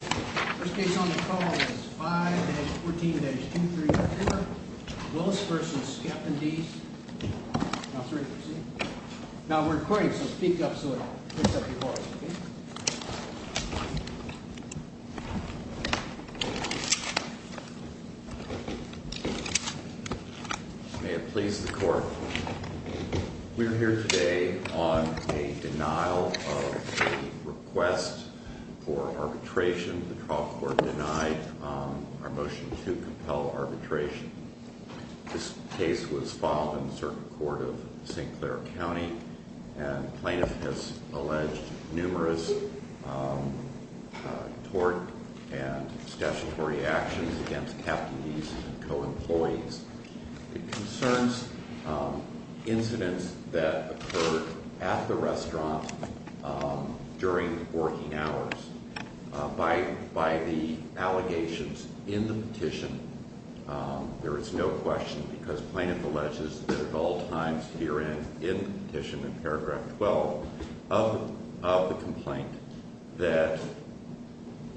First case on the call is 5-14-2344, Willis v. Captain D's, LLC Now we're recording, so speak up so it picks up your voice, okay? May it please the court, we're here today on a denial of a request for arbitration. The trial court denied our motion to compel arbitration. This case was filed in the Circuit Court of St. Clair County and plaintiff has alleged numerous tort and statutory actions against Captain D's and co-employees. It concerns incidents that occurred at the restaurant during working hours. By the allegations in the petition, there is no question because plaintiff alleges that at all times herein in the petition, in paragraph 12, of the complaint, that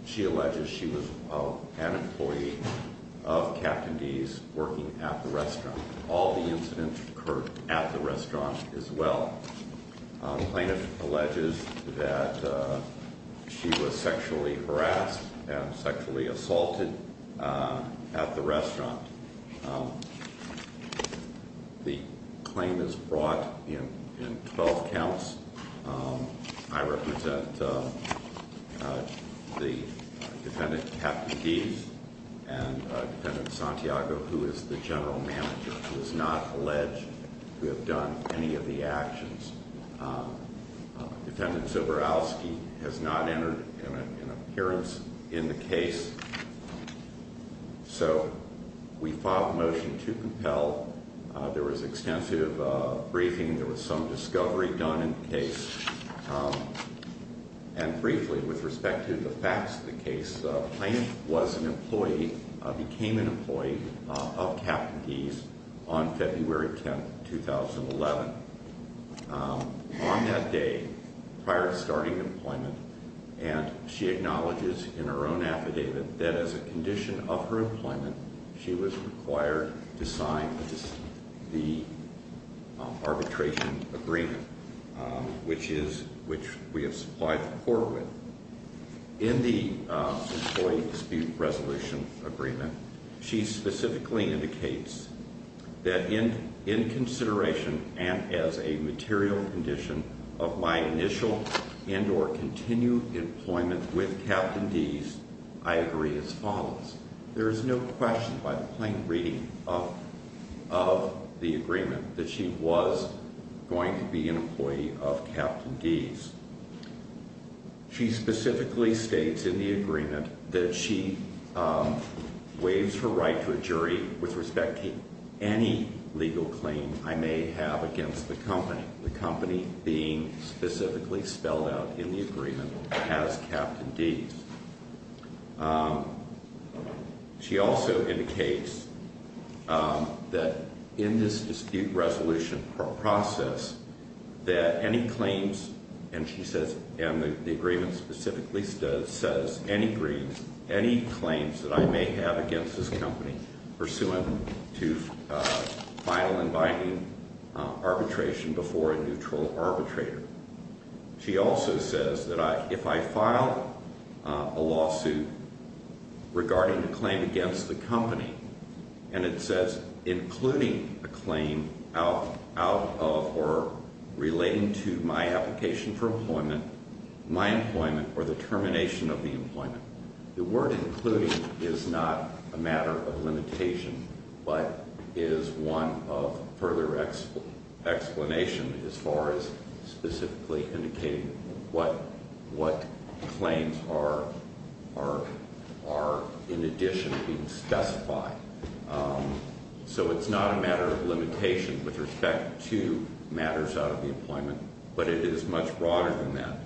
she alleges she was an employee of Captain D's working at the restaurant. All the incidents occurred at the restaurant as well. Plaintiff alleges that she was sexually harassed and sexually assaulted at the restaurant. The claim is brought in 12 counts. I represent the defendant, Captain D's, and defendant Santiago, who is the general manager, who has not alleged to have done any of the actions. Defendant Zborowski has not entered an appearance in the case. So we filed the motion to compel. There was extensive briefing. There was some discovery done in the case. And briefly, with respect to the facts of the case, plaintiff was an employee, became an employee of Captain D's on February 10, 2011. On that day, prior to starting employment, and she acknowledges in her own affidavit that as a condition of her employment, she was required to sign the arbitration agreement, which we have supplied the court with. In the employee dispute resolution agreement, she specifically indicates that in consideration and as a material condition of my initial and or continued employment with Captain D's, I agree as follows. There is no question by the plain reading of the agreement that she was going to be an employee of Captain D's. She specifically states in the agreement that she waives her right to a jury with respect to any legal claim I may have against the company, the company being specifically spelled out in the agreement as Captain D's. She also indicates that in this dispute resolution process that any claims, and she says, and the agreement specifically says, any claims that I may have against this company pursuant to final and binding arbitration before a neutral arbitrator. She also says that if I file a lawsuit regarding a claim against the company, and it says, including a claim out of or relating to my application for employment, my employment, or the termination of the employment. The word including is not a matter of limitation, but is one of further explanation as far as specifically indicating what claims are in addition being specified. So it's not a matter of limitation with respect to matters out of the employment, but it is much broader than that.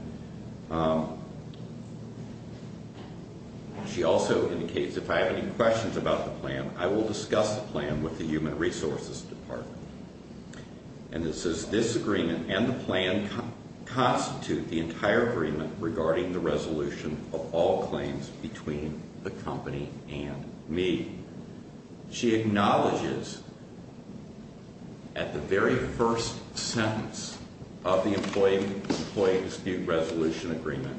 She also indicates if I have any questions about the plan, I will discuss the plan with the human resources department. And it says this agreement and the plan constitute the entire agreement regarding the resolution of all claims between the company and me. She acknowledges at the very first sentence of the employee dispute resolution agreement,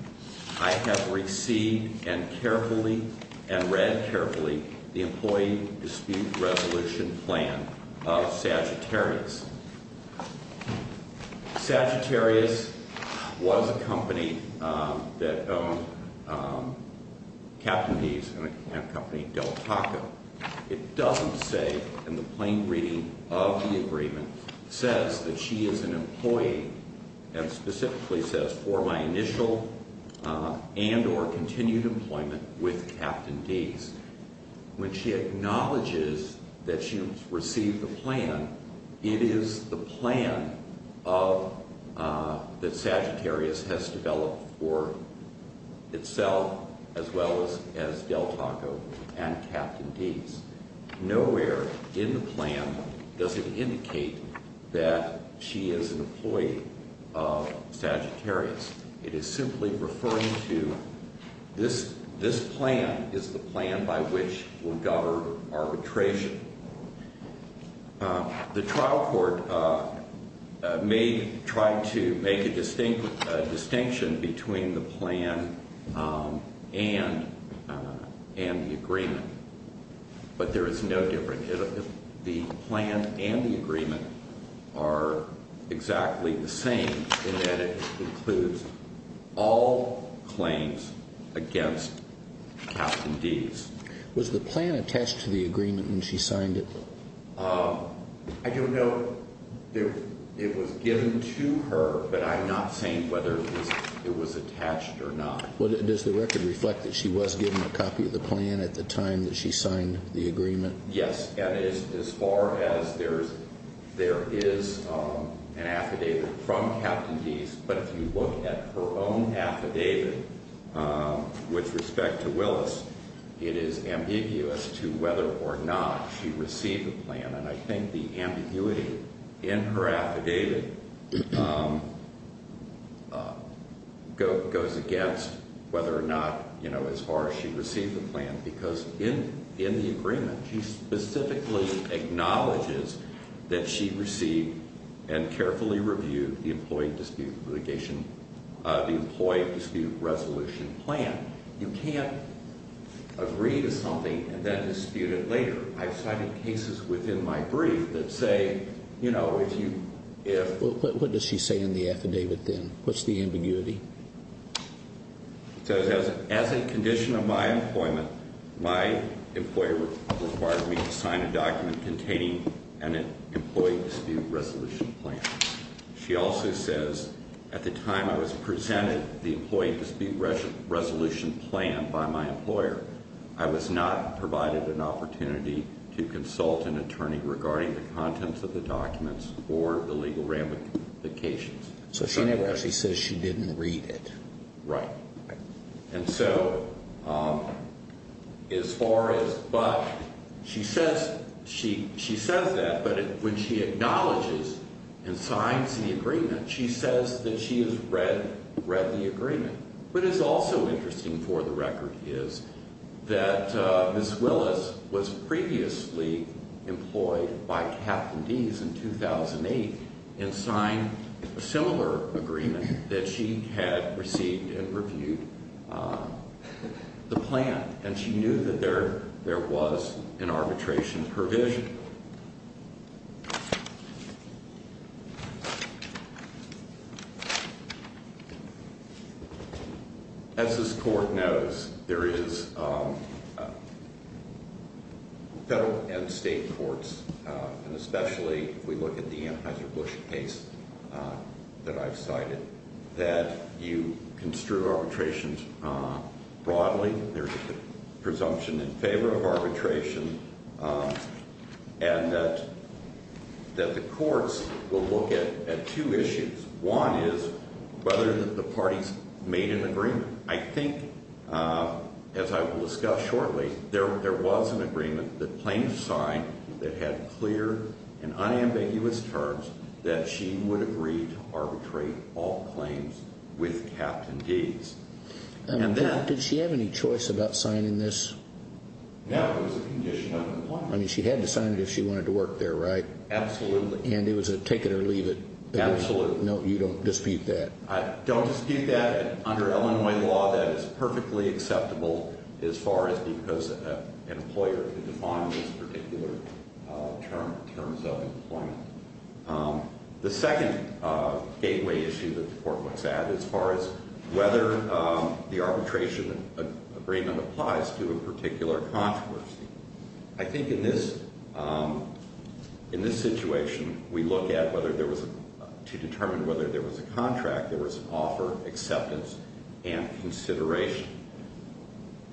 I have received and carefully and read carefully the employee dispute resolution plan of Sagittarius. Sagittarius was a company that owned Captain D's and a company, Del Taco. It doesn't say in the plain reading of the agreement, says that she is an employee and specifically says for my initial and or continued employment with Captain D's. When she acknowledges that she has received the plan, it is the plan that Sagittarius has developed for itself as well as Del Taco and Captain D's. Nowhere in the plan does it indicate that she is an employee of Sagittarius. It is simply referring to this plan is the plan by which we'll govern arbitration. The trial court may try to make a distinction between the plan and the agreement, but there is no difference. The plan and the agreement are exactly the same in that it includes all claims against Captain D's. Was the plan attached to the agreement when she signed it? I don't know if it was given to her, but I'm not saying whether it was attached or not. Does the record reflect that she was given a copy of the plan at the time that she signed the agreement? Yes, and as far as there is an affidavit from Captain D's, but if you look at her own affidavit with respect to Willis, it is ambiguous to whether or not she received the plan. And I think the ambiguity in her affidavit goes against whether or not, you know, as far as she received the plan. Because in the agreement, she specifically acknowledges that she received and carefully reviewed the employee dispute resolution plan. You can't agree to something and then dispute it later. I've cited cases within my brief that say, you know, if you... What does she say in the affidavit then? What's the ambiguity? It says, as a condition of my employment, my employer required me to sign a document containing an employee dispute resolution plan. She also says, at the time I was presented the employee dispute resolution plan by my employer, I was not provided an opportunity to consult an attorney regarding the contents of the documents or the legal ramifications. So she never actually says she didn't read it. Right. And so as far as... But she says that, but when she acknowledges and signs the agreement, she says that she has read the agreement. What is also interesting for the record is that Ms. Willis was previously employed by Captain Deese in 2008 and signed a similar agreement that she had received and reviewed the plan. And she knew that there was an arbitration provision. As this court knows, there is federal and state courts, and especially if we look at the Anheuser-Busch case that I've cited, that you construe arbitrations broadly. There's a presumption in favor of arbitration and that the courts will look at two issues. One is whether the parties made an agreement. I think, as I will discuss shortly, there was an agreement that claims signed that had clear and unambiguous terms that she would agree to arbitrate all claims with Captain Deese. Did she have any choice about signing this? No, it was a condition of employment. I mean, she had to sign it if she wanted to work there, right? Absolutely. And it was a take it or leave it? Absolutely. No, you don't dispute that? I don't dispute that. Under Illinois law, that is perfectly acceptable as far as because an employer could define these particular terms of employment. The second gateway issue that the court looks at as far as whether the arbitration agreement applies to a particular controversy, I think in this situation, we look at whether there was, to determine whether there was a contract, there was an offer, acceptance, and consideration.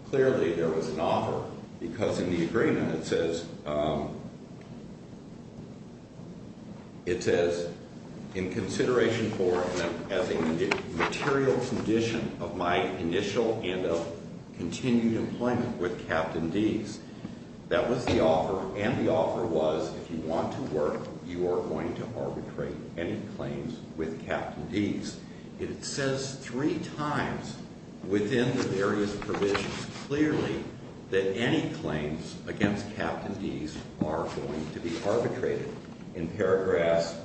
Clearly, there was an offer because in the agreement, it says, in consideration for and as a material condition of my initial and continued employment with Captain Deese. That was the offer, and the offer was, if you want to work, you are going to arbitrate any claims with Captain Deese. It says three times within the various provisions clearly that any claims against Captain Deese are going to be arbitrated in paragraphs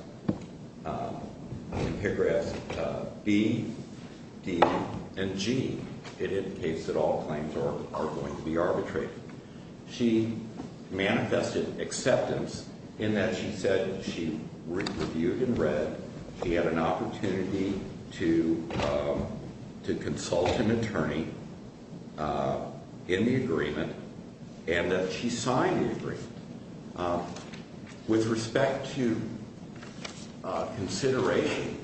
B, D, and G. It indicates that all claims are going to be arbitrated. She manifested acceptance in that she said she reviewed and read, she had an opportunity to consult an attorney in the agreement, and that she signed the agreement. With respect to consideration,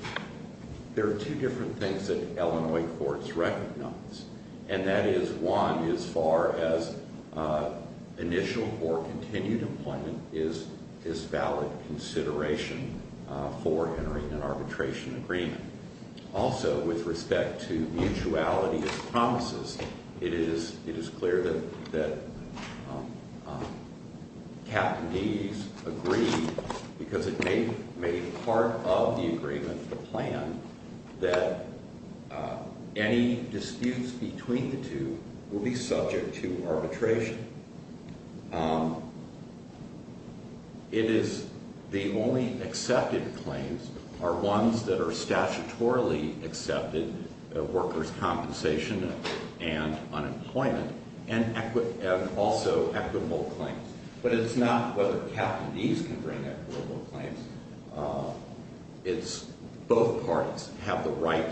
there are two different things that Illinois courts recognize, and that is, one, as far as initial or continued employment is valid consideration for entering an arbitration agreement. Also, with respect to mutuality of promises, it is clear that Captain Deese agreed, because it made part of the agreement, the plan, that any disputes between the two will be subject to arbitration. It is the only accepted claims are ones that are statutorily accepted, workers' compensation and unemployment, and also equitable claims. But it's not whether Captain Deese can bring equitable claims. It's both parties have the right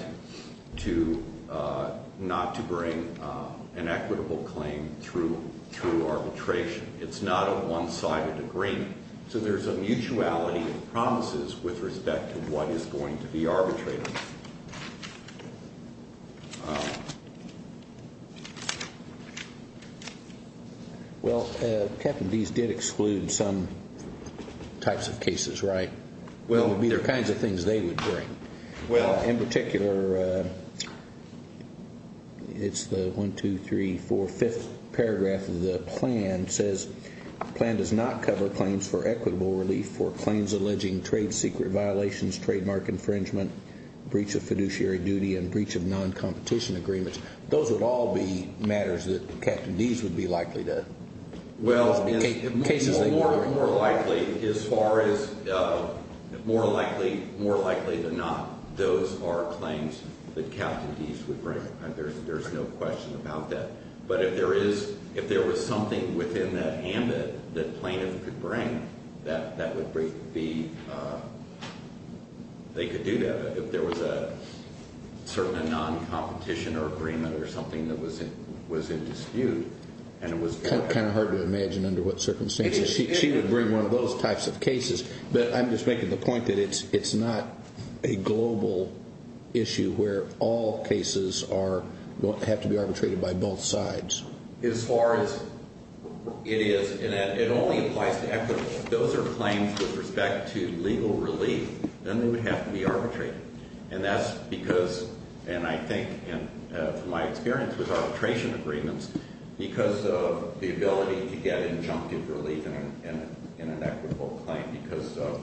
to not to bring an equitable claim through arbitration. It's not a one-sided agreement, so there's a mutuality of promises with respect to what is going to be arbitrated. Well, Captain Deese did exclude some types of cases, right? Well, there are kinds of things they would bring. Well, in particular, it's the 1, 2, 3, 4, 5th paragraph of the plan says, the plan does not cover claims for equitable relief for claims alleging trade secret violations, trademark infringement, breach of fiduciary duty, and breach of non-competition agreements. Those would all be matters that Captain Deese would be likely to... Well, more likely, as far as more likely than not, those are claims that Captain Deese would bring. There's no question about that. But if there was something within that ambit that plaintiff could bring, they could do that. If there was a certain non-competition or agreement or something that was in dispute and it was... It's kind of hard to imagine under what circumstances she would bring one of those types of cases. But I'm just making the point that it's not a global issue where all cases have to be arbitrated by both sides. As far as it is, and it only applies to equitable, those are claims with respect to legal relief, and they would have to be arbitrated. And that's because, and I think, and from my experience with arbitration agreements, because of the ability to get injunctive relief in an equitable claim because of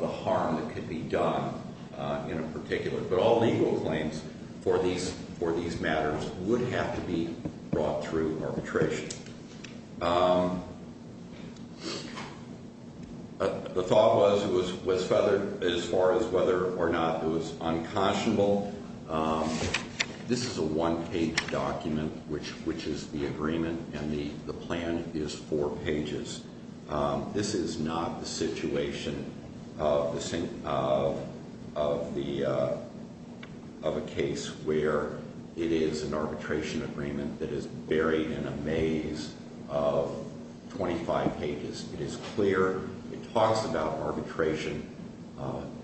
the harm that could be done in a particular... But all legal claims for these matters would have to be brought through arbitration. The thought was, as far as whether or not it was unconscionable, this is a one-page document, which is the agreement, and the plan is four pages. This is not the situation of a case where it is an arbitration agreement that is buried in a maze of 25 pages. It is clear. It talks about arbitration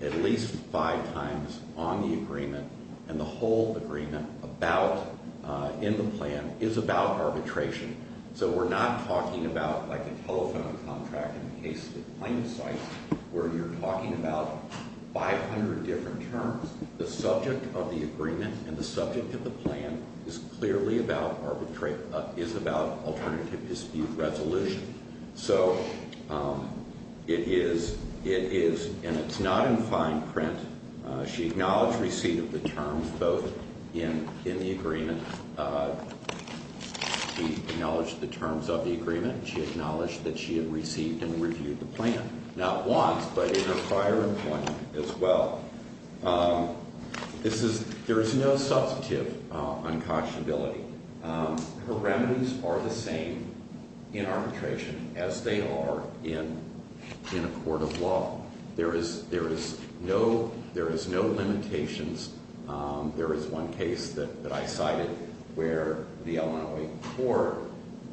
at least five times on the agreement, and the whole agreement in the plan is about arbitration. So we're not talking about like a telephone contract in the case of the claimant's site where you're talking about 500 different terms. The subject of the agreement and the subject of the plan is clearly about alternative dispute resolution. So it is, and it's not in fine print. She acknowledged receipt of the terms both in the agreement. She acknowledged the terms of the agreement. She acknowledged that she had received and reviewed the plan, not once, but in her prior employment as well. This is, there is no substantive unconscionability. Her remedies are the same in arbitration as they are in a court of law. There is no limitations. There is one case that I cited where the Illinois court,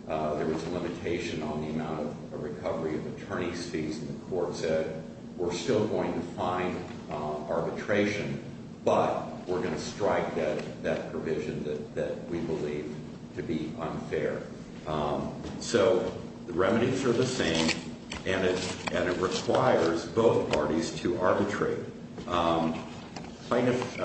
there was a limitation on the amount of recovery of attorney's fees, and the court said, we're still going to find arbitration, but we're going to strike that provision that we believe to be unfair. So the remedies are the same, and it requires both parties to arbitrate. Plaintiff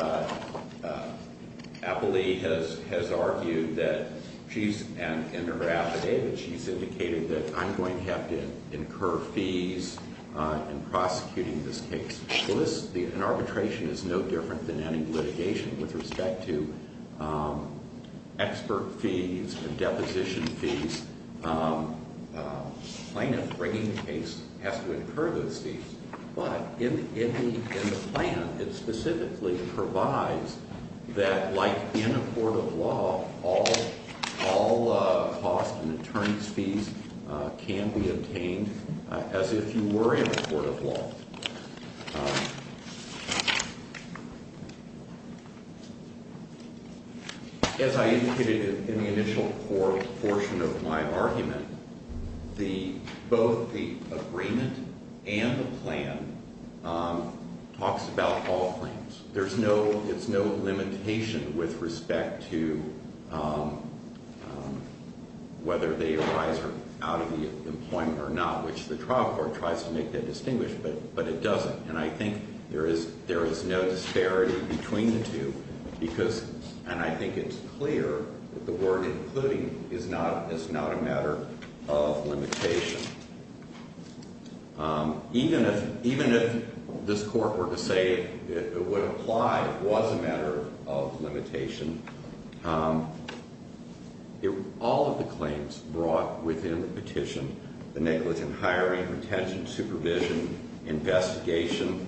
Applee has argued that she's, in her affidavit, she's indicated that I'm going to have to incur fees in prosecuting this case. So this, an arbitration is no different than any litigation with respect to expert fees and deposition fees. Plaintiff bringing the case has to incur those fees. But in the plan, it specifically provides that like in a court of law, all costs and attorney's fees can be obtained as if you were in a court of law. As I indicated in the initial portion of my argument, the, both the agreement and the plan talks about all claims. There's no, it's no limitation with respect to whether they arise out of the employment or not, which the trial court tries to make that distinguished, but it doesn't. And I think there is no disparity between the two because, and I think it's clear that the word including is not a matter of limitation. Even if this court were to say it would apply, it was a matter of limitation, all of the claims brought within the petition, the negligent hiring, retention, supervision, investigation,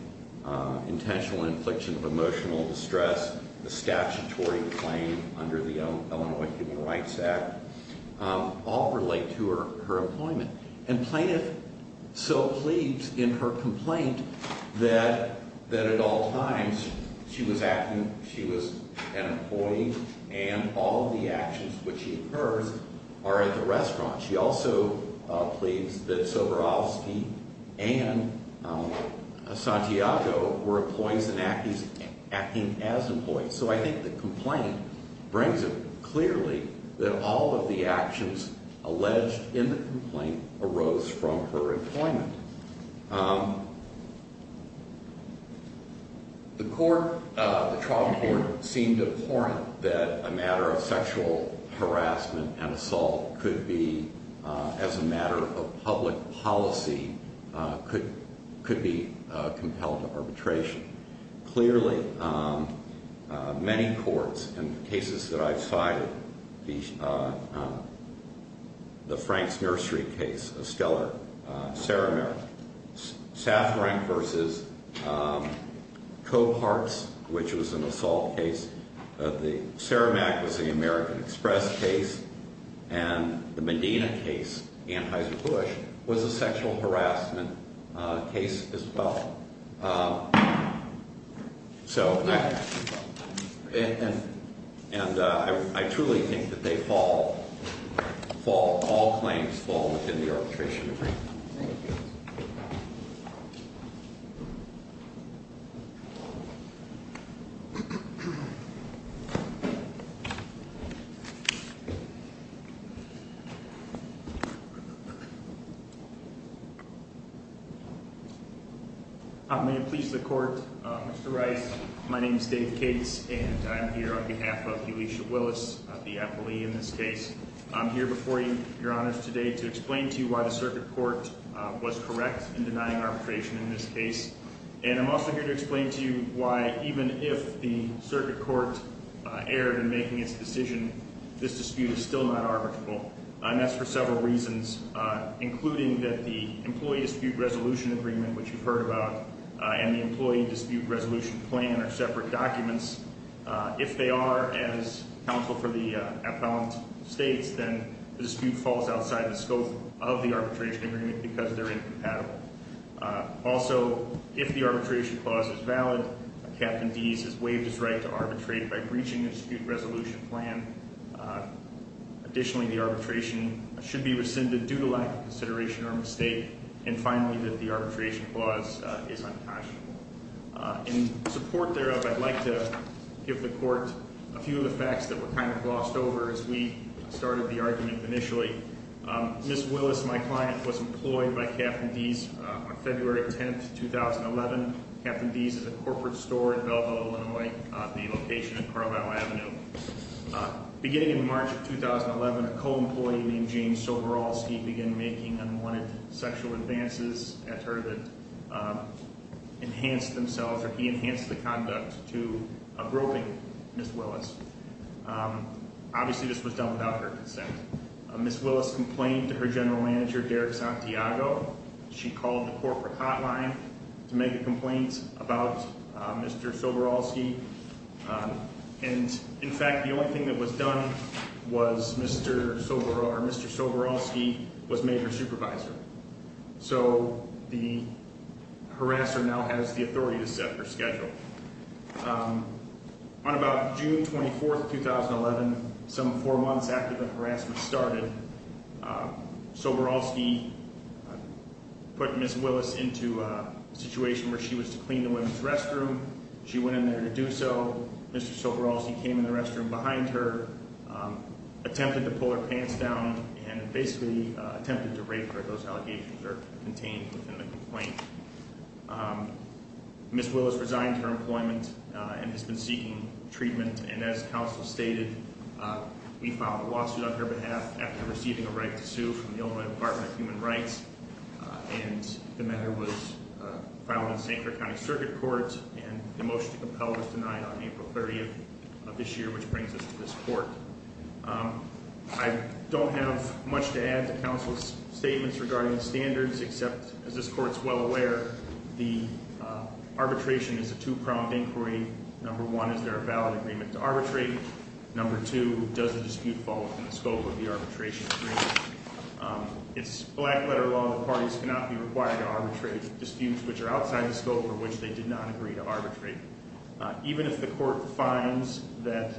intentional infliction of emotional distress, the statutory claim under the Illinois Human Rights Act, all relate to her employment. And plaintiff so pleads in her complaint that at all times she was acting, she was an employee and all of the actions which she incurs are at the restaurant. She also pleads that Soborowski and Santiago were employees and acting as employees. So I think the complaint brings it clearly that all of the actions alleged in the complaint arose from her employment. The court, the trial court seemed abhorrent that a matter of sexual harassment and assault could be, as a matter of public policy, could be compelled to arbitration. Clearly, many courts and cases that I've cited, the Franks Nursery case, Estella Saramara, Safran versus Cope Hearts, which was an assault case, the Saramac was the American Express case, and the Medina case, Anheuser-Busch, was a sexual harassment case as well. So, and I truly think that they fall, fall, all claims fall within the arbitration agreement. Thank you. May it please the court, Mr. Rice, my name is Dave Cates, and I'm here on behalf of Elisha Willis, the appellee in this case. I'm here before you, your honors, today to explain to you why the circuit court was correct in denying arbitration in this case. And I'm also here to explain to you why, even if the circuit court erred in making its decision, this dispute is still not arbitrable. And that's for several reasons, including that the employee dispute resolution agreement, which you've heard about, and the employee dispute resolution plan are separate documents. If they are, as counsel for the appellant states, then the dispute falls outside the scope of the arbitration agreement because they're incompatible. Also, if the arbitration clause is valid, Captain Deese has waived his right to arbitrate by breaching the dispute resolution plan. Additionally, the arbitration should be rescinded due to lack of consideration or mistake. And finally, that the arbitration clause is unconscionable. In support thereof, I'd like to give the court a few of the facts that were kind of glossed over as we started the argument initially. Ms. Willis, my client, was employed by Captain Deese on February 10th, 2011. Captain Deese is a corporate store in Belleville, Illinois, the location of Carlyle Avenue. Beginning in March of 2011, a co-employee named James Soboroski began making unwanted sexual advances at her that enhanced themselves, or he enhanced the conduct to a groping Ms. Willis. Obviously, this was done without her consent. Ms. Willis complained to her general manager, Derek Santiago. She called the corporate hotline to make a complaint about Mr. Soboroski. And, in fact, the only thing that was done was Mr. Soboroski was made her supervisor. So the harasser now has the authority to set her schedule. On about June 24th, 2011, some four months after the harassment started, Soboroski put Ms. Willis into a situation where she was to clean the women's restroom. She went in there to do so. Mr. Soboroski came in the restroom behind her, attempted to pull her pants down, and basically attempted to rape her. Those allegations are contained within the complaint. Ms. Willis resigned her employment and has been seeking treatment. And as counsel stated, we filed a lawsuit on her behalf after receiving a right to sue from the Illinois Department of Human Rights. And the matter was filed in St. Clair County Circuit Court. And the motion to compel was denied on April 30th of this year, which brings us to this court. I don't have much to add to counsel's statements regarding the standards, except, as this court's well aware, the arbitration is a two-pronged inquiry. Number one, is there a valid agreement to arbitrate? Number two, does the dispute fall within the scope of the arbitration agreement? It's black-letter law that parties cannot be required to arbitrate disputes which are outside the scope for which they did not agree to arbitrate. Even if the court finds that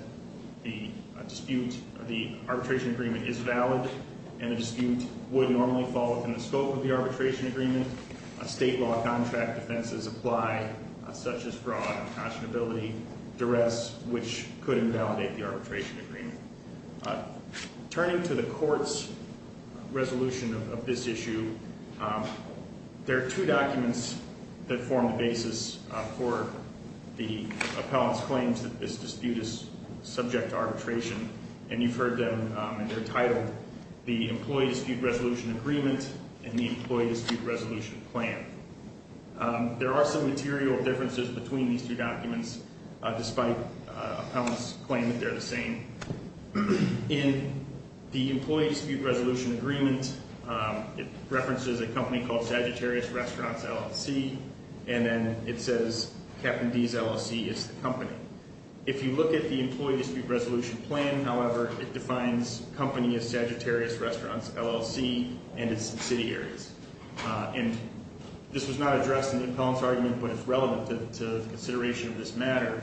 the dispute, the arbitration agreement is valid, and the dispute would normally fall within the scope of the arbitration agreement, state law contract defenses apply, such as fraud, unconscionability, duress, which could invalidate the arbitration agreement. Turning to the court's resolution of this issue, there are two documents that form the basis for the appellant's claims that this dispute is subject to arbitration. And you've heard them, and they're titled the Employee Dispute Resolution Agreement and the Employee Dispute Resolution Plan. There are some material differences between these two documents, despite appellant's claim that they're the same. In the Employee Dispute Resolution Agreement, it references a company called Sagittarius Restaurants LLC, and then it says Captain D's LLC is the company. If you look at the Employee Dispute Resolution Plan, however, it defines company as Sagittarius Restaurants LLC, and it's in city areas. And this was not addressed in the appellant's argument, but it's relevant to the consideration of this matter.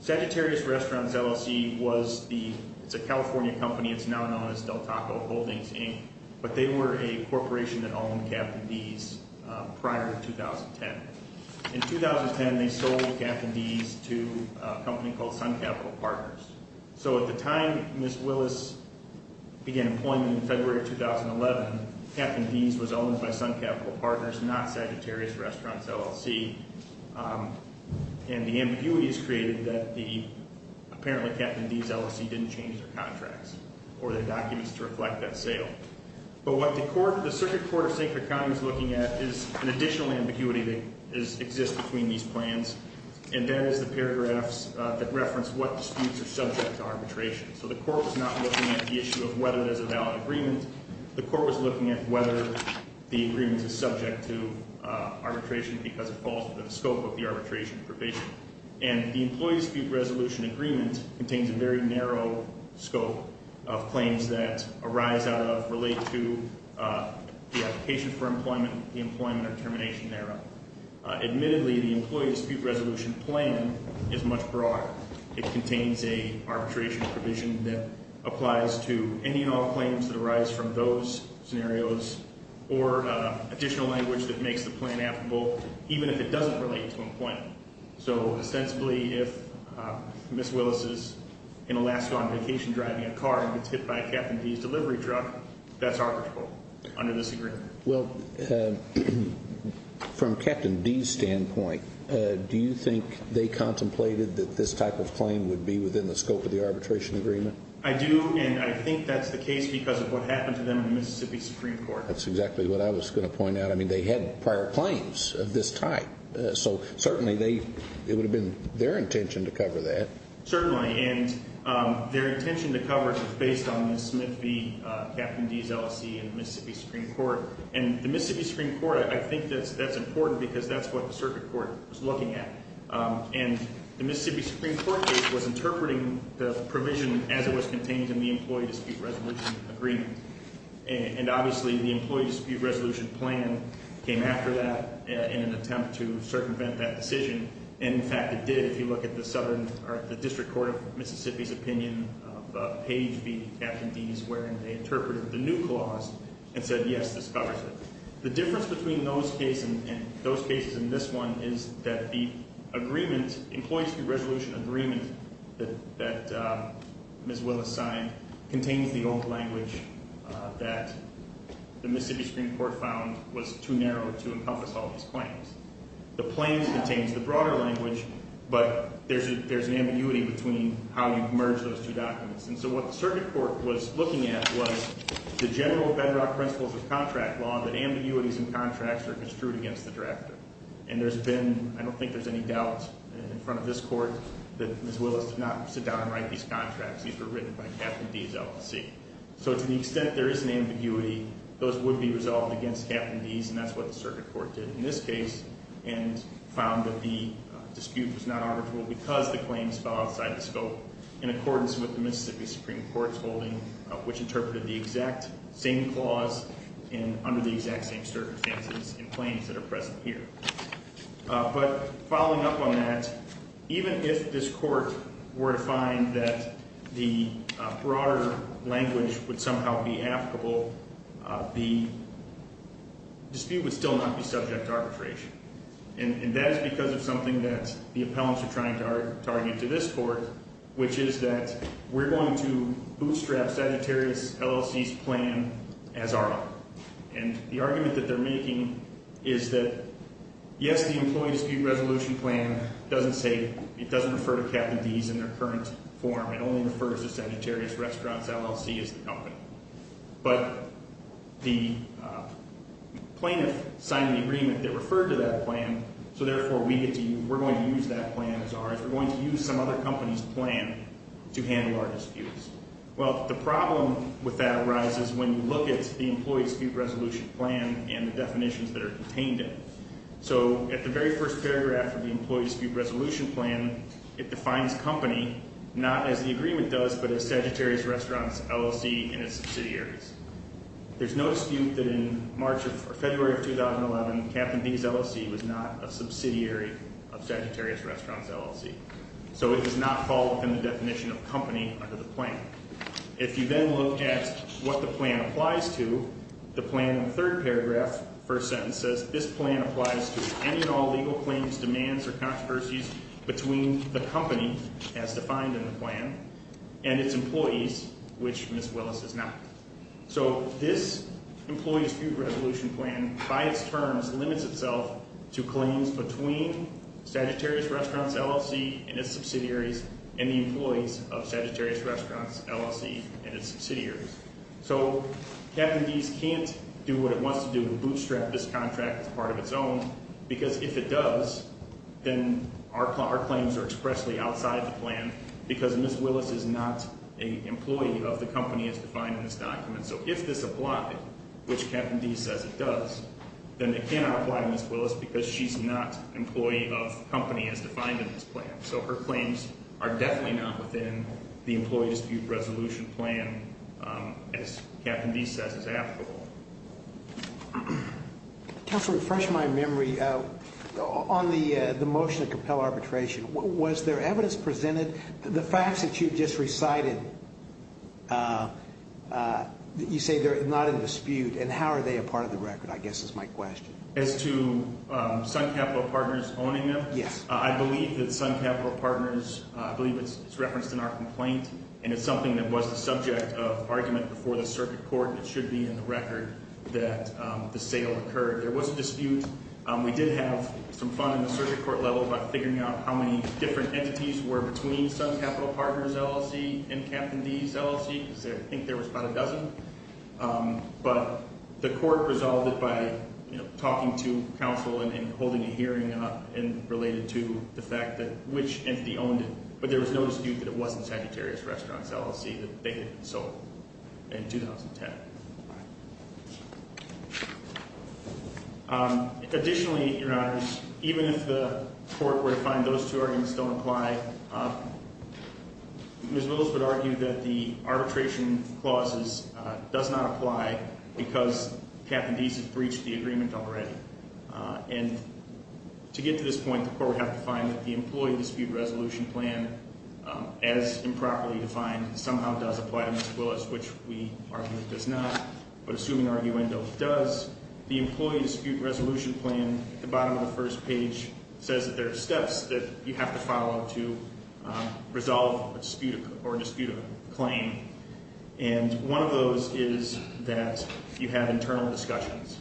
Sagittarius Restaurants LLC was the, it's a California company, it's now known as Del Taco Holdings, Inc., but they were a corporation that owned Captain D's prior to 2010. In 2010, they sold Captain D's to a company called Sun Capital Partners. So at the time Ms. Willis began employment in February of 2011, Captain D's was owned by Sun Capital Partners, not Sagittarius Restaurants LLC. And the ambiguity is created that the, apparently Captain D's LLC didn't change their contracts or their documents to reflect that sale. But what the circuit court of St. Clair County is looking at is an additional ambiguity that exists between these plans, and that is the paragraphs that reference what disputes are subject to arbitration. So the court was not looking at the issue of whether there's a valid agreement. The court was looking at whether the agreement is subject to arbitration because it falls within the scope of the arbitration probation. And the Employee Dispute Resolution Agreement contains a very narrow scope of claims that arise out of, relate to the application for employment, the employment or termination thereof. Admittedly, the Employee Dispute Resolution plan is much broader. It contains a arbitration provision that applies to any and all claims that arise from those scenarios, or additional language that makes the plan applicable, even if it doesn't relate to employment. So, ostensibly, if Ms. Willis is in Alaska on vacation driving a car and gets hit by Captain D's delivery truck, that's arbitrable under this agreement. Well, from Captain D's standpoint, do you think they contemplated that this type of claim would be within the scope of the arbitration agreement? I do, and I think that's the case because of what happened to them in the Mississippi Supreme Court. That's exactly what I was going to point out. I mean, they had prior claims of this type, so certainly it would have been their intention to cover that. Certainly, and their intention to cover it was based on Ms. Smith v. Captain D's LLC in the Mississippi Supreme Court. And the Mississippi Supreme Court, I think that's important because that's what the circuit court was looking at. And the Mississippi Supreme Court case was interpreting the provision as it was contained in the Employee Dispute Resolution agreement. And obviously, the Employee Dispute Resolution plan came after that in an attempt to circumvent that decision. And in fact, it did if you look at the district court of Mississippi's opinion of Page v. Captain D's, where they interpreted the new clause and said, yes, this covers it. The difference between those cases and this one is that the Employee Dispute Resolution agreement that Ms. Willis signed contains the old language that the Mississippi Supreme Court found was too narrow to encompass all of these claims. The plains contains the broader language, but there's an ambiguity between how you merge those two documents. And so what the circuit court was looking at was the general bedrock principles of contract law, that ambiguities in contracts are construed against the drafter. And there's been – I don't think there's any doubt in front of this court that Ms. Willis did not sit down and write these contracts. These were written by Captain D's LLC. So to the extent there is an ambiguity, those would be resolved against Captain D's, and that's what the circuit court did. In this case, and found that the dispute was not arbitrable because the claims fell outside the scope, in accordance with the Mississippi Supreme Court's holding, which interpreted the exact same clause and under the exact same circumstances and claims that are present here. But following up on that, even if this court were to find that the broader language would somehow be applicable, the dispute would still not be subject to arbitration. And that is because of something that the appellants are trying to target to this court, which is that we're going to bootstrap Sagittarius LLC's plan as our own. And the argument that they're making is that, yes, the employee dispute resolution plan doesn't say – it doesn't refer to Captain D's in their current form, it only refers to Sagittarius Restaurant's LLC as the company. But the plaintiff signed the agreement that referred to that plan, so therefore we're going to use that plan as ours. We're going to use some other company's plan to handle our disputes. Well, the problem with that arises when you look at the employee dispute resolution plan and the definitions that are contained in it. So at the very first paragraph of the employee dispute resolution plan, it defines company not as the agreement does but as Sagittarius Restaurant's LLC and its subsidiaries. There's no dispute that in March or February of 2011, Captain D's LLC was not a subsidiary of Sagittarius Restaurant's LLC. So it does not fall within the definition of company under the plan. If you then look at what the plan applies to, the plan in the third paragraph, first sentence, it says this plan applies to any and all legal claims, demands, or controversies between the company, as defined in the plan, and its employees, which Ms. Willis is not. So this employee dispute resolution plan, by its terms, limits itself to claims between Sagittarius Restaurant's LLC and its subsidiaries and the employees of Sagittarius Restaurant's LLC and its subsidiaries. So Captain D's can't do what it wants to do, bootstrap this contract as part of its own, because if it does, then our claims are expressly outside the plan because Ms. Willis is not an employee of the company as defined in this document. So if this applied, which Captain D says it does, then it cannot apply to Ms. Willis because she's not an employee of the company as defined in this plan. So her claims are definitely not within the employee dispute resolution plan, as Captain D says is applicable. Counselor, to refresh my memory, on the motion to compel arbitration, was there evidence presented, the facts that you just recited, you say they're not in dispute, and how are they a part of the record, I guess is my question. As to Sun Capital Partners owning them? Yes. I believe that Sun Capital Partners, I believe it's referenced in our complaint, and it's something that was the subject of argument before the circuit court and it should be in the record that the sale occurred. There was a dispute. We did have some fun in the circuit court level about figuring out how many different entities were between Sun Capital Partners LLC and Captain D's LLC, because I think there was about a dozen. But the court resolved it by talking to counsel and holding a hearing up and related to the fact that which entity owned it, but there was no dispute that it wasn't Sagittarius Restaurants LLC that they had sold in 2010. Additionally, Your Honors, even if the court were to find those two arguments don't apply, Ms. Willis would argue that the arbitration clauses does not apply because Captain D's has breached the agreement already. And to get to this point, the court would have to find that the employee dispute resolution plan, as improperly defined, somehow does apply to Ms. Willis, which we argue does not. But assuming arguendo does, the employee dispute resolution plan, at the bottom of the first page, says that there are steps that you have to follow to resolve a dispute or dispute a claim. And one of those is that you have internal discussions.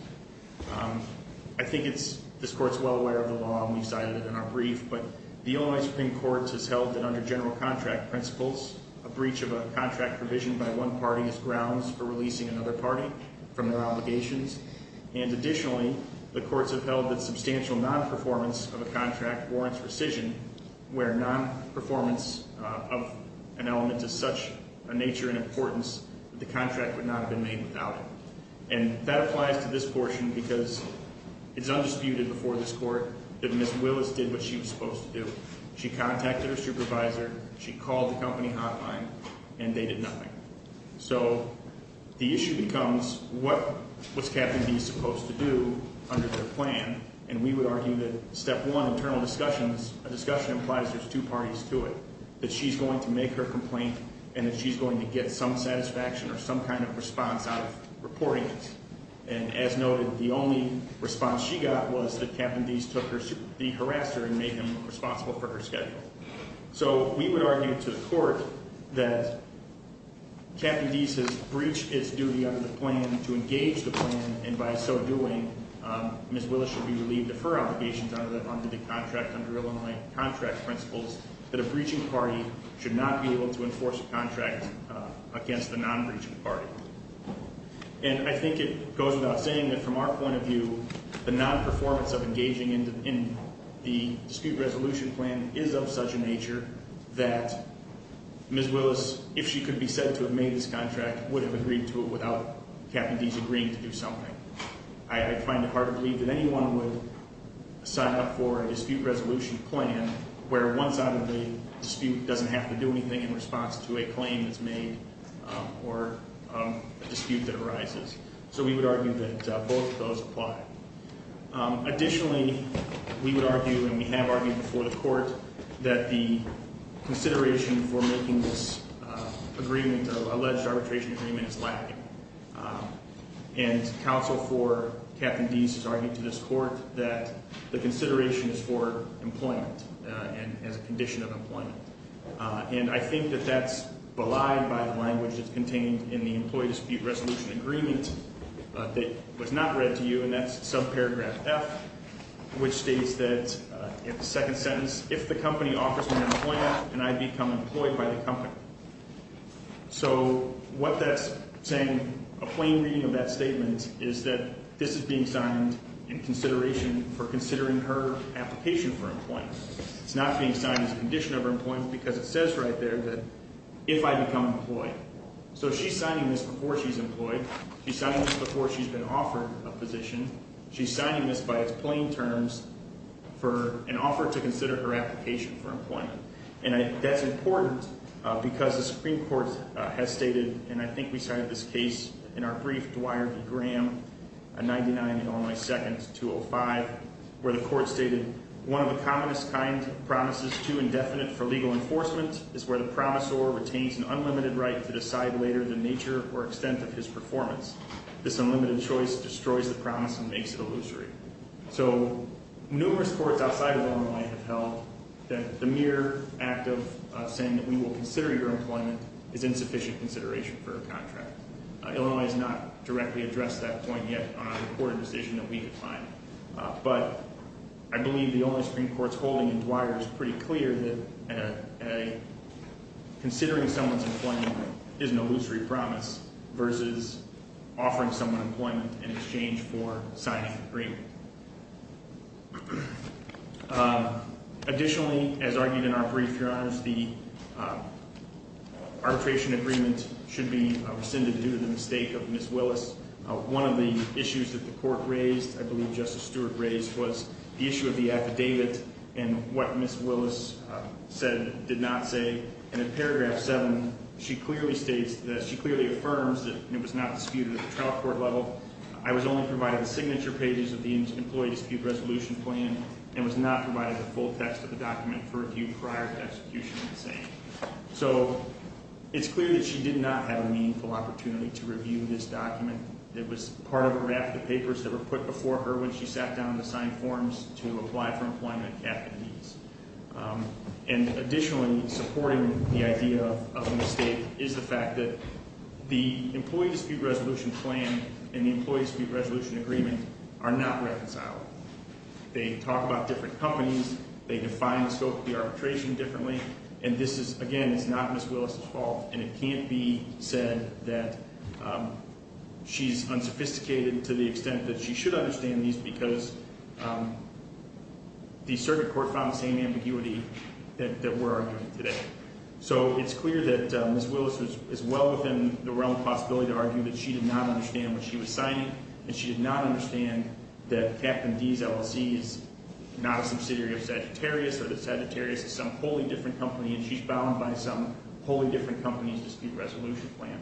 I think this court's well aware of the law, and we cited it in our brief, but the Illinois Supreme Court has held that under general contract principles, a breach of a contract provisioned by one party is grounds for releasing another party from their obligations. And additionally, the courts have held that substantial non-performance of a contract warrants rescission, where non-performance of an element is such a nature and importance that the contract would not have been made without it. And that applies to this portion because it's undisputed before this court that Ms. Willis did what she was supposed to do. She contacted her supervisor, she called the company hotline, and they did nothing. So the issue becomes, what was Captain D supposed to do under their plan? And we would argue that step one, internal discussions, a discussion implies there's two parties to it. That she's going to make her complaint and that she's going to get some satisfaction or some kind of response out of reporting it. And as noted, the only response she got was that Captain Deese took the harasser and made him responsible for her schedule. So we would argue to the court that Captain Deese has breached its duty under the plan to engage the plan. And by so doing, Ms. Willis should be relieved of her obligations under the contract, under Illinois contract principles, that a breaching party should not be able to enforce a contract against a non-breaching party. And I think it goes without saying that from our point of view, the non-performance of engaging in the dispute resolution plan is of such a nature that Ms. Willis, if she could be said to have made this contract, would have agreed to it without Captain Deese agreeing to do something. I find it hard to believe that anyone would sign up for a dispute resolution plan, where one side of the dispute doesn't have to do anything in response to a claim that's made or a dispute that arises. So we would argue that both of those apply. Additionally, we would argue, and we have argued before the court, that the consideration for making this agreement, alleged arbitration agreement, is lacking. And counsel for Captain Deese has argued to this court that the consideration is for employment and as a condition of employment. And I think that that's belied by the language that's contained in the employee dispute resolution agreement that was not read to you, and that's subparagraph F, which states that in the second sentence, if the company offers me employment, then I become employed by the company. So what that's saying, a plain reading of that statement, is that this is being signed in consideration for considering her application for employment. It's not being signed as a condition of employment because it says right there that if I become employed. So she's signing this before she's employed. She's signing this before she's been offered a position. She's signing this by its plain terms for an offer to consider her application for employment. And that's important because the Supreme Court has stated, and I think we cited this case in our brief, Dwyer v. Graham, 99 Illinois 2nd, 205, where the court stated, one of the commonest kind promises too indefinite for legal enforcement is where the promisor retains an unlimited right to decide later the nature or extent of his performance. This unlimited choice destroys the promise and makes it illusory. So numerous courts outside of Illinois have held that the mere act of saying that we will consider your employment is insufficient consideration for a contract. Illinois has not directly addressed that point yet on a reported decision that we could find. But I believe the only Supreme Court's holding in Dwyer is pretty clear that considering someone's employment is an illusory promise versus offering someone employment in exchange for signing the agreement. Additionally, as argued in our brief, Your Honor, the arbitration agreement should be rescinded due to the mistake of Ms. Willis. One of the issues that the court raised, I believe Justice Stewart raised, was the issue of the affidavit and what Ms. Willis did not say. And in paragraph seven, she clearly states, she clearly affirms that it was not disputed at the trial court level. I was only provided the signature pages of the employee dispute resolution plan and was not provided the full text of the document for review prior to execution of the saying. So it's clear that she did not have a meaningful opportunity to review this document. It was part of a raft of papers that were put before her when she sat down to sign forms to apply for employment at the knees. And additionally, supporting the idea of the mistake is the fact that the employee dispute resolution plan and the employee dispute resolution agreement are not reconciled. They talk about different companies. They define the scope of the arbitration differently. And this is, again, it's not Ms. Willis' fault. And it can't be said that she's unsophisticated to the extent that she should understand these because the circuit court found the same ambiguity that we're arguing today. So it's clear that Ms. Willis is well within the realm of possibility to argue that she did not understand what she was signing. And she did not understand that Captain D's LLC is not a subsidiary of Sagittarius or that Sagittarius is some wholly different company and she's bound by some wholly different company's dispute resolution plan.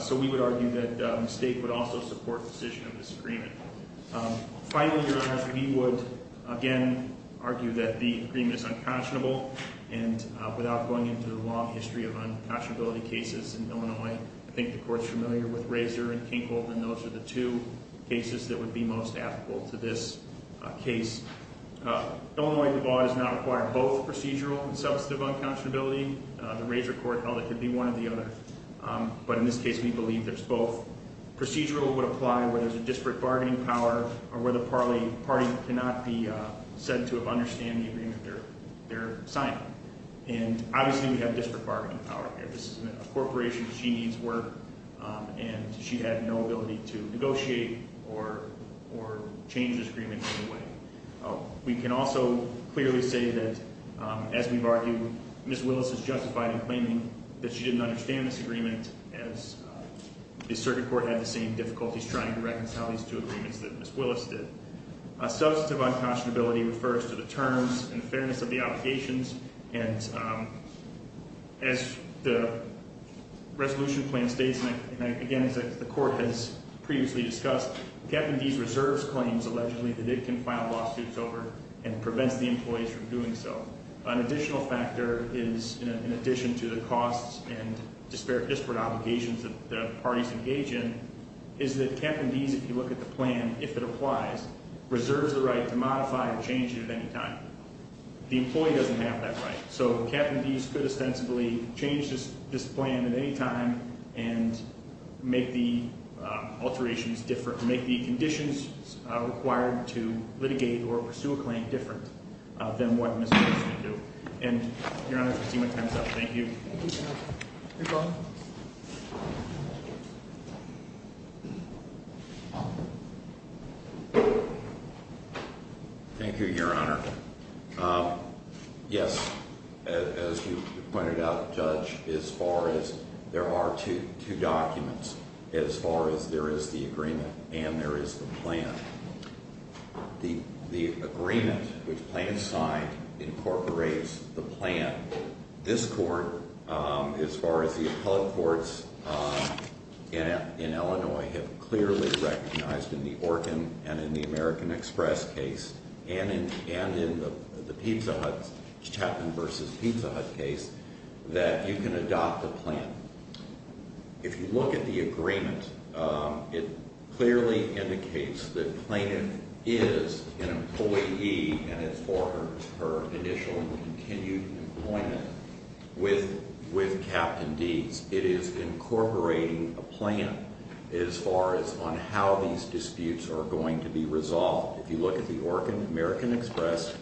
So we would argue that mistake would also support decision of this agreement. Finally, we would, again, argue that the agreement is unconscionable. And without going into the long history of unconscionability cases in Illinois, I think the court's familiar with Razor and Kinkel, and those are the two cases that would be most applicable to this case. Illinois law does not require both procedural and substantive unconscionability. The Razor court held it could be one or the other. But in this case, we believe there's both. Procedural would apply where there's a disparate bargaining power or where the party cannot be said to have understand the agreement they're signing. And obviously, we have disparate bargaining power here. This is a corporation. She needs work. And she had no ability to negotiate or change this agreement in any way. We can also clearly say that, as we've argued, Ms. Willis is justified in claiming that she didn't understand this agreement as the circuit court had the same difficulties trying to reconcile these two agreements that Ms. Willis did. Substantive unconscionability refers to the terms and fairness of the obligations. And as the resolution plan states, and, again, as the court has previously discussed, Captain Deese reserves claims, allegedly, that it can file lawsuits over and prevents the employees from doing so. An additional factor is, in addition to the costs and disparate obligations that the parties engage in, is that Captain Deese, if you look at the plan, if it applies, reserves the right to modify or change it at any time. The employee doesn't have that right. So Captain Deese could ostensibly change this plan at any time and make the alterations different, make the conditions required to litigate or pursue a claim different than what Ms. Willis could do. And, Your Honor, I see my time is up. Thank you. Thank you, sir. You're welcome. Thank you, Your Honor. Yes, as you pointed out, Judge, as far as there are two documents, as far as there is the agreement and there is the plan. The agreement, which plaintiffs signed, incorporates the plan. This court, as far as the appellate courts in Illinois, have clearly recognized in the Orkin and in the American Express case and in the Pizza Hut, Chapman v. Pizza Hut case, that you can adopt the plan. If you look at the agreement, it clearly indicates that plaintiff is an employee and it's for her initial and continued employment with Captain Deese. It is incorporating a plan as far as on how these disputes are going to be resolved. If you look at the Orkin American Express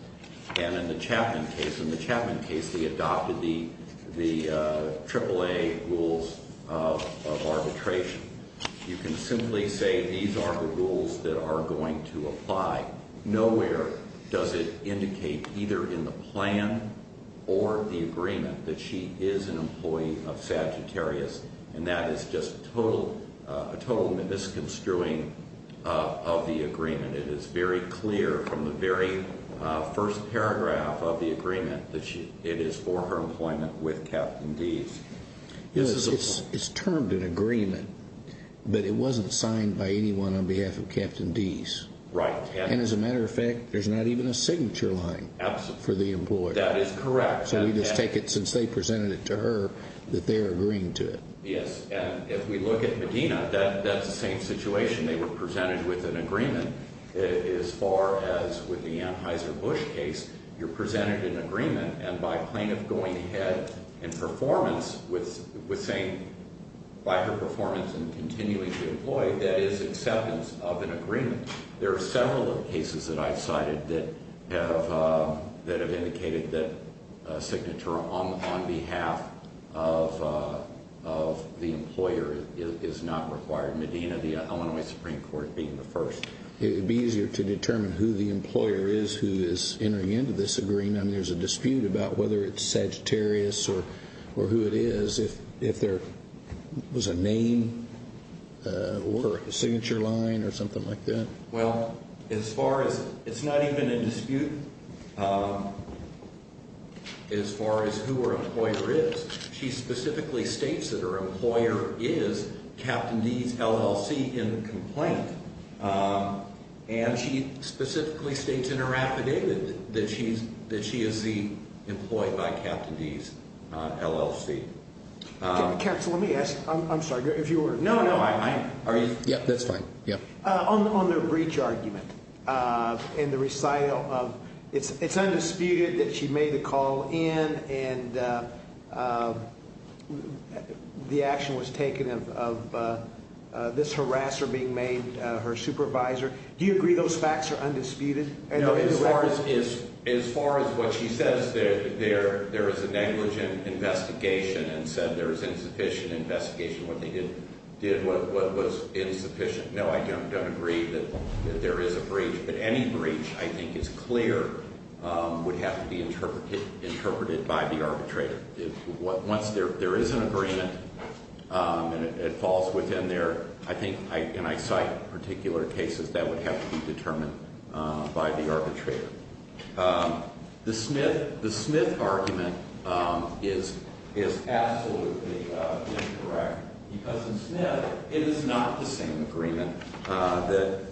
and in the Chapman case, in the Chapman case, they adopted the AAA rules of arbitration. You can simply say these are the rules that are going to apply. Nowhere does it indicate, either in the plan or the agreement, that she is an employee of Sagittarius, and that is just a total misconstruing of the agreement. It is very clear from the very first paragraph of the agreement that it is for her employment with Captain Deese. Yes, it's termed an agreement, but it wasn't signed by anyone on behalf of Captain Deese. Right. And as a matter of fact, there's not even a signature line for the employer. That is correct. So we just take it, since they presented it to her, that they are agreeing to it. Yes, and if we look at Medina, that's the same situation. They were presented with an agreement. As far as with the Anheuser-Busch case, you're presented an agreement, and by plaintiff going ahead and performance with saying, by her performance and continuing to employ, that is acceptance of an agreement. There are several cases that I've cited that have indicated that a signature on behalf of the employer is not required, Medina, the Illinois Supreme Court being the first. It would be easier to determine who the employer is who is entering into this agreement. I mean, there's a dispute about whether it's Sagittarius or who it is, if there was a name or a signature line or something like that. Well, as far as, it's not even a dispute as far as who her employer is. She specifically states that her employer is Captain Deese, LLC, in the complaint. And she specifically states in her affidavit that she is the employee by Captain Deese, LLC. Counsel, let me ask. I'm sorry. No, no. Are you? Yeah, that's fine. On the breach argument in the recital, it's undisputed that she made the call in, and the action was taken of this harasser being made her supervisor. Do you agree those facts are undisputed? No, as far as what she says, there is a negligent investigation and said there was insufficient investigation when they did what was insufficient. No, I don't agree that there is a breach. But any breach I think is clear would have to be interpreted by the arbitrator. Once there is an agreement and it falls within their, I think, and I cite particular cases that would have to be determined by the arbitrator. The Smith argument is absolutely incorrect. Because in Smith, it is not the same agreement that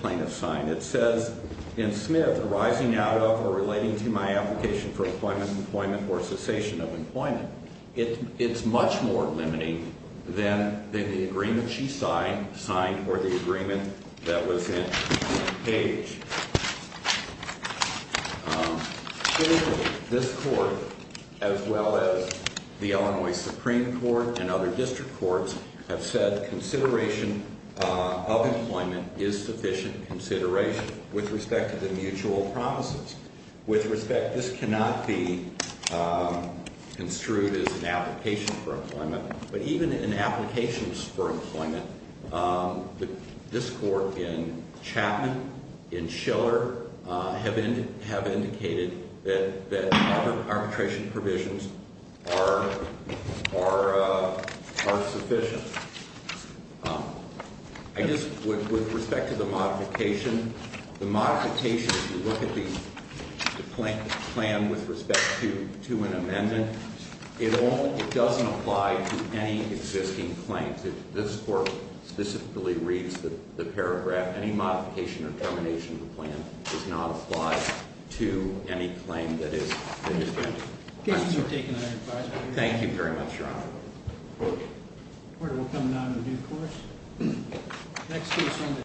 plaintiffs signed. It says in Smith, arising out of or relating to my application for employment or cessation of employment, it's much more limiting than the agreement she signed or the agreement that was in Page. This Court, as well as the Illinois Supreme Court and other district courts, have said consideration of employment is sufficient consideration with respect to the mutual promises. With respect, this cannot be construed as an application for employment. But even in applications for employment, this Court in Chapman, in Schiller, have indicated that arbitration provisions are sufficient. With respect to the modification, the modification, if you look at the plan with respect to an amendment, it doesn't apply to any existing claims. This Court specifically reads the paragraph. Any modification or termination of the plan does not apply to any claim that is in the statute. Thank you very much, Your Honor. The Court will come now to the due course.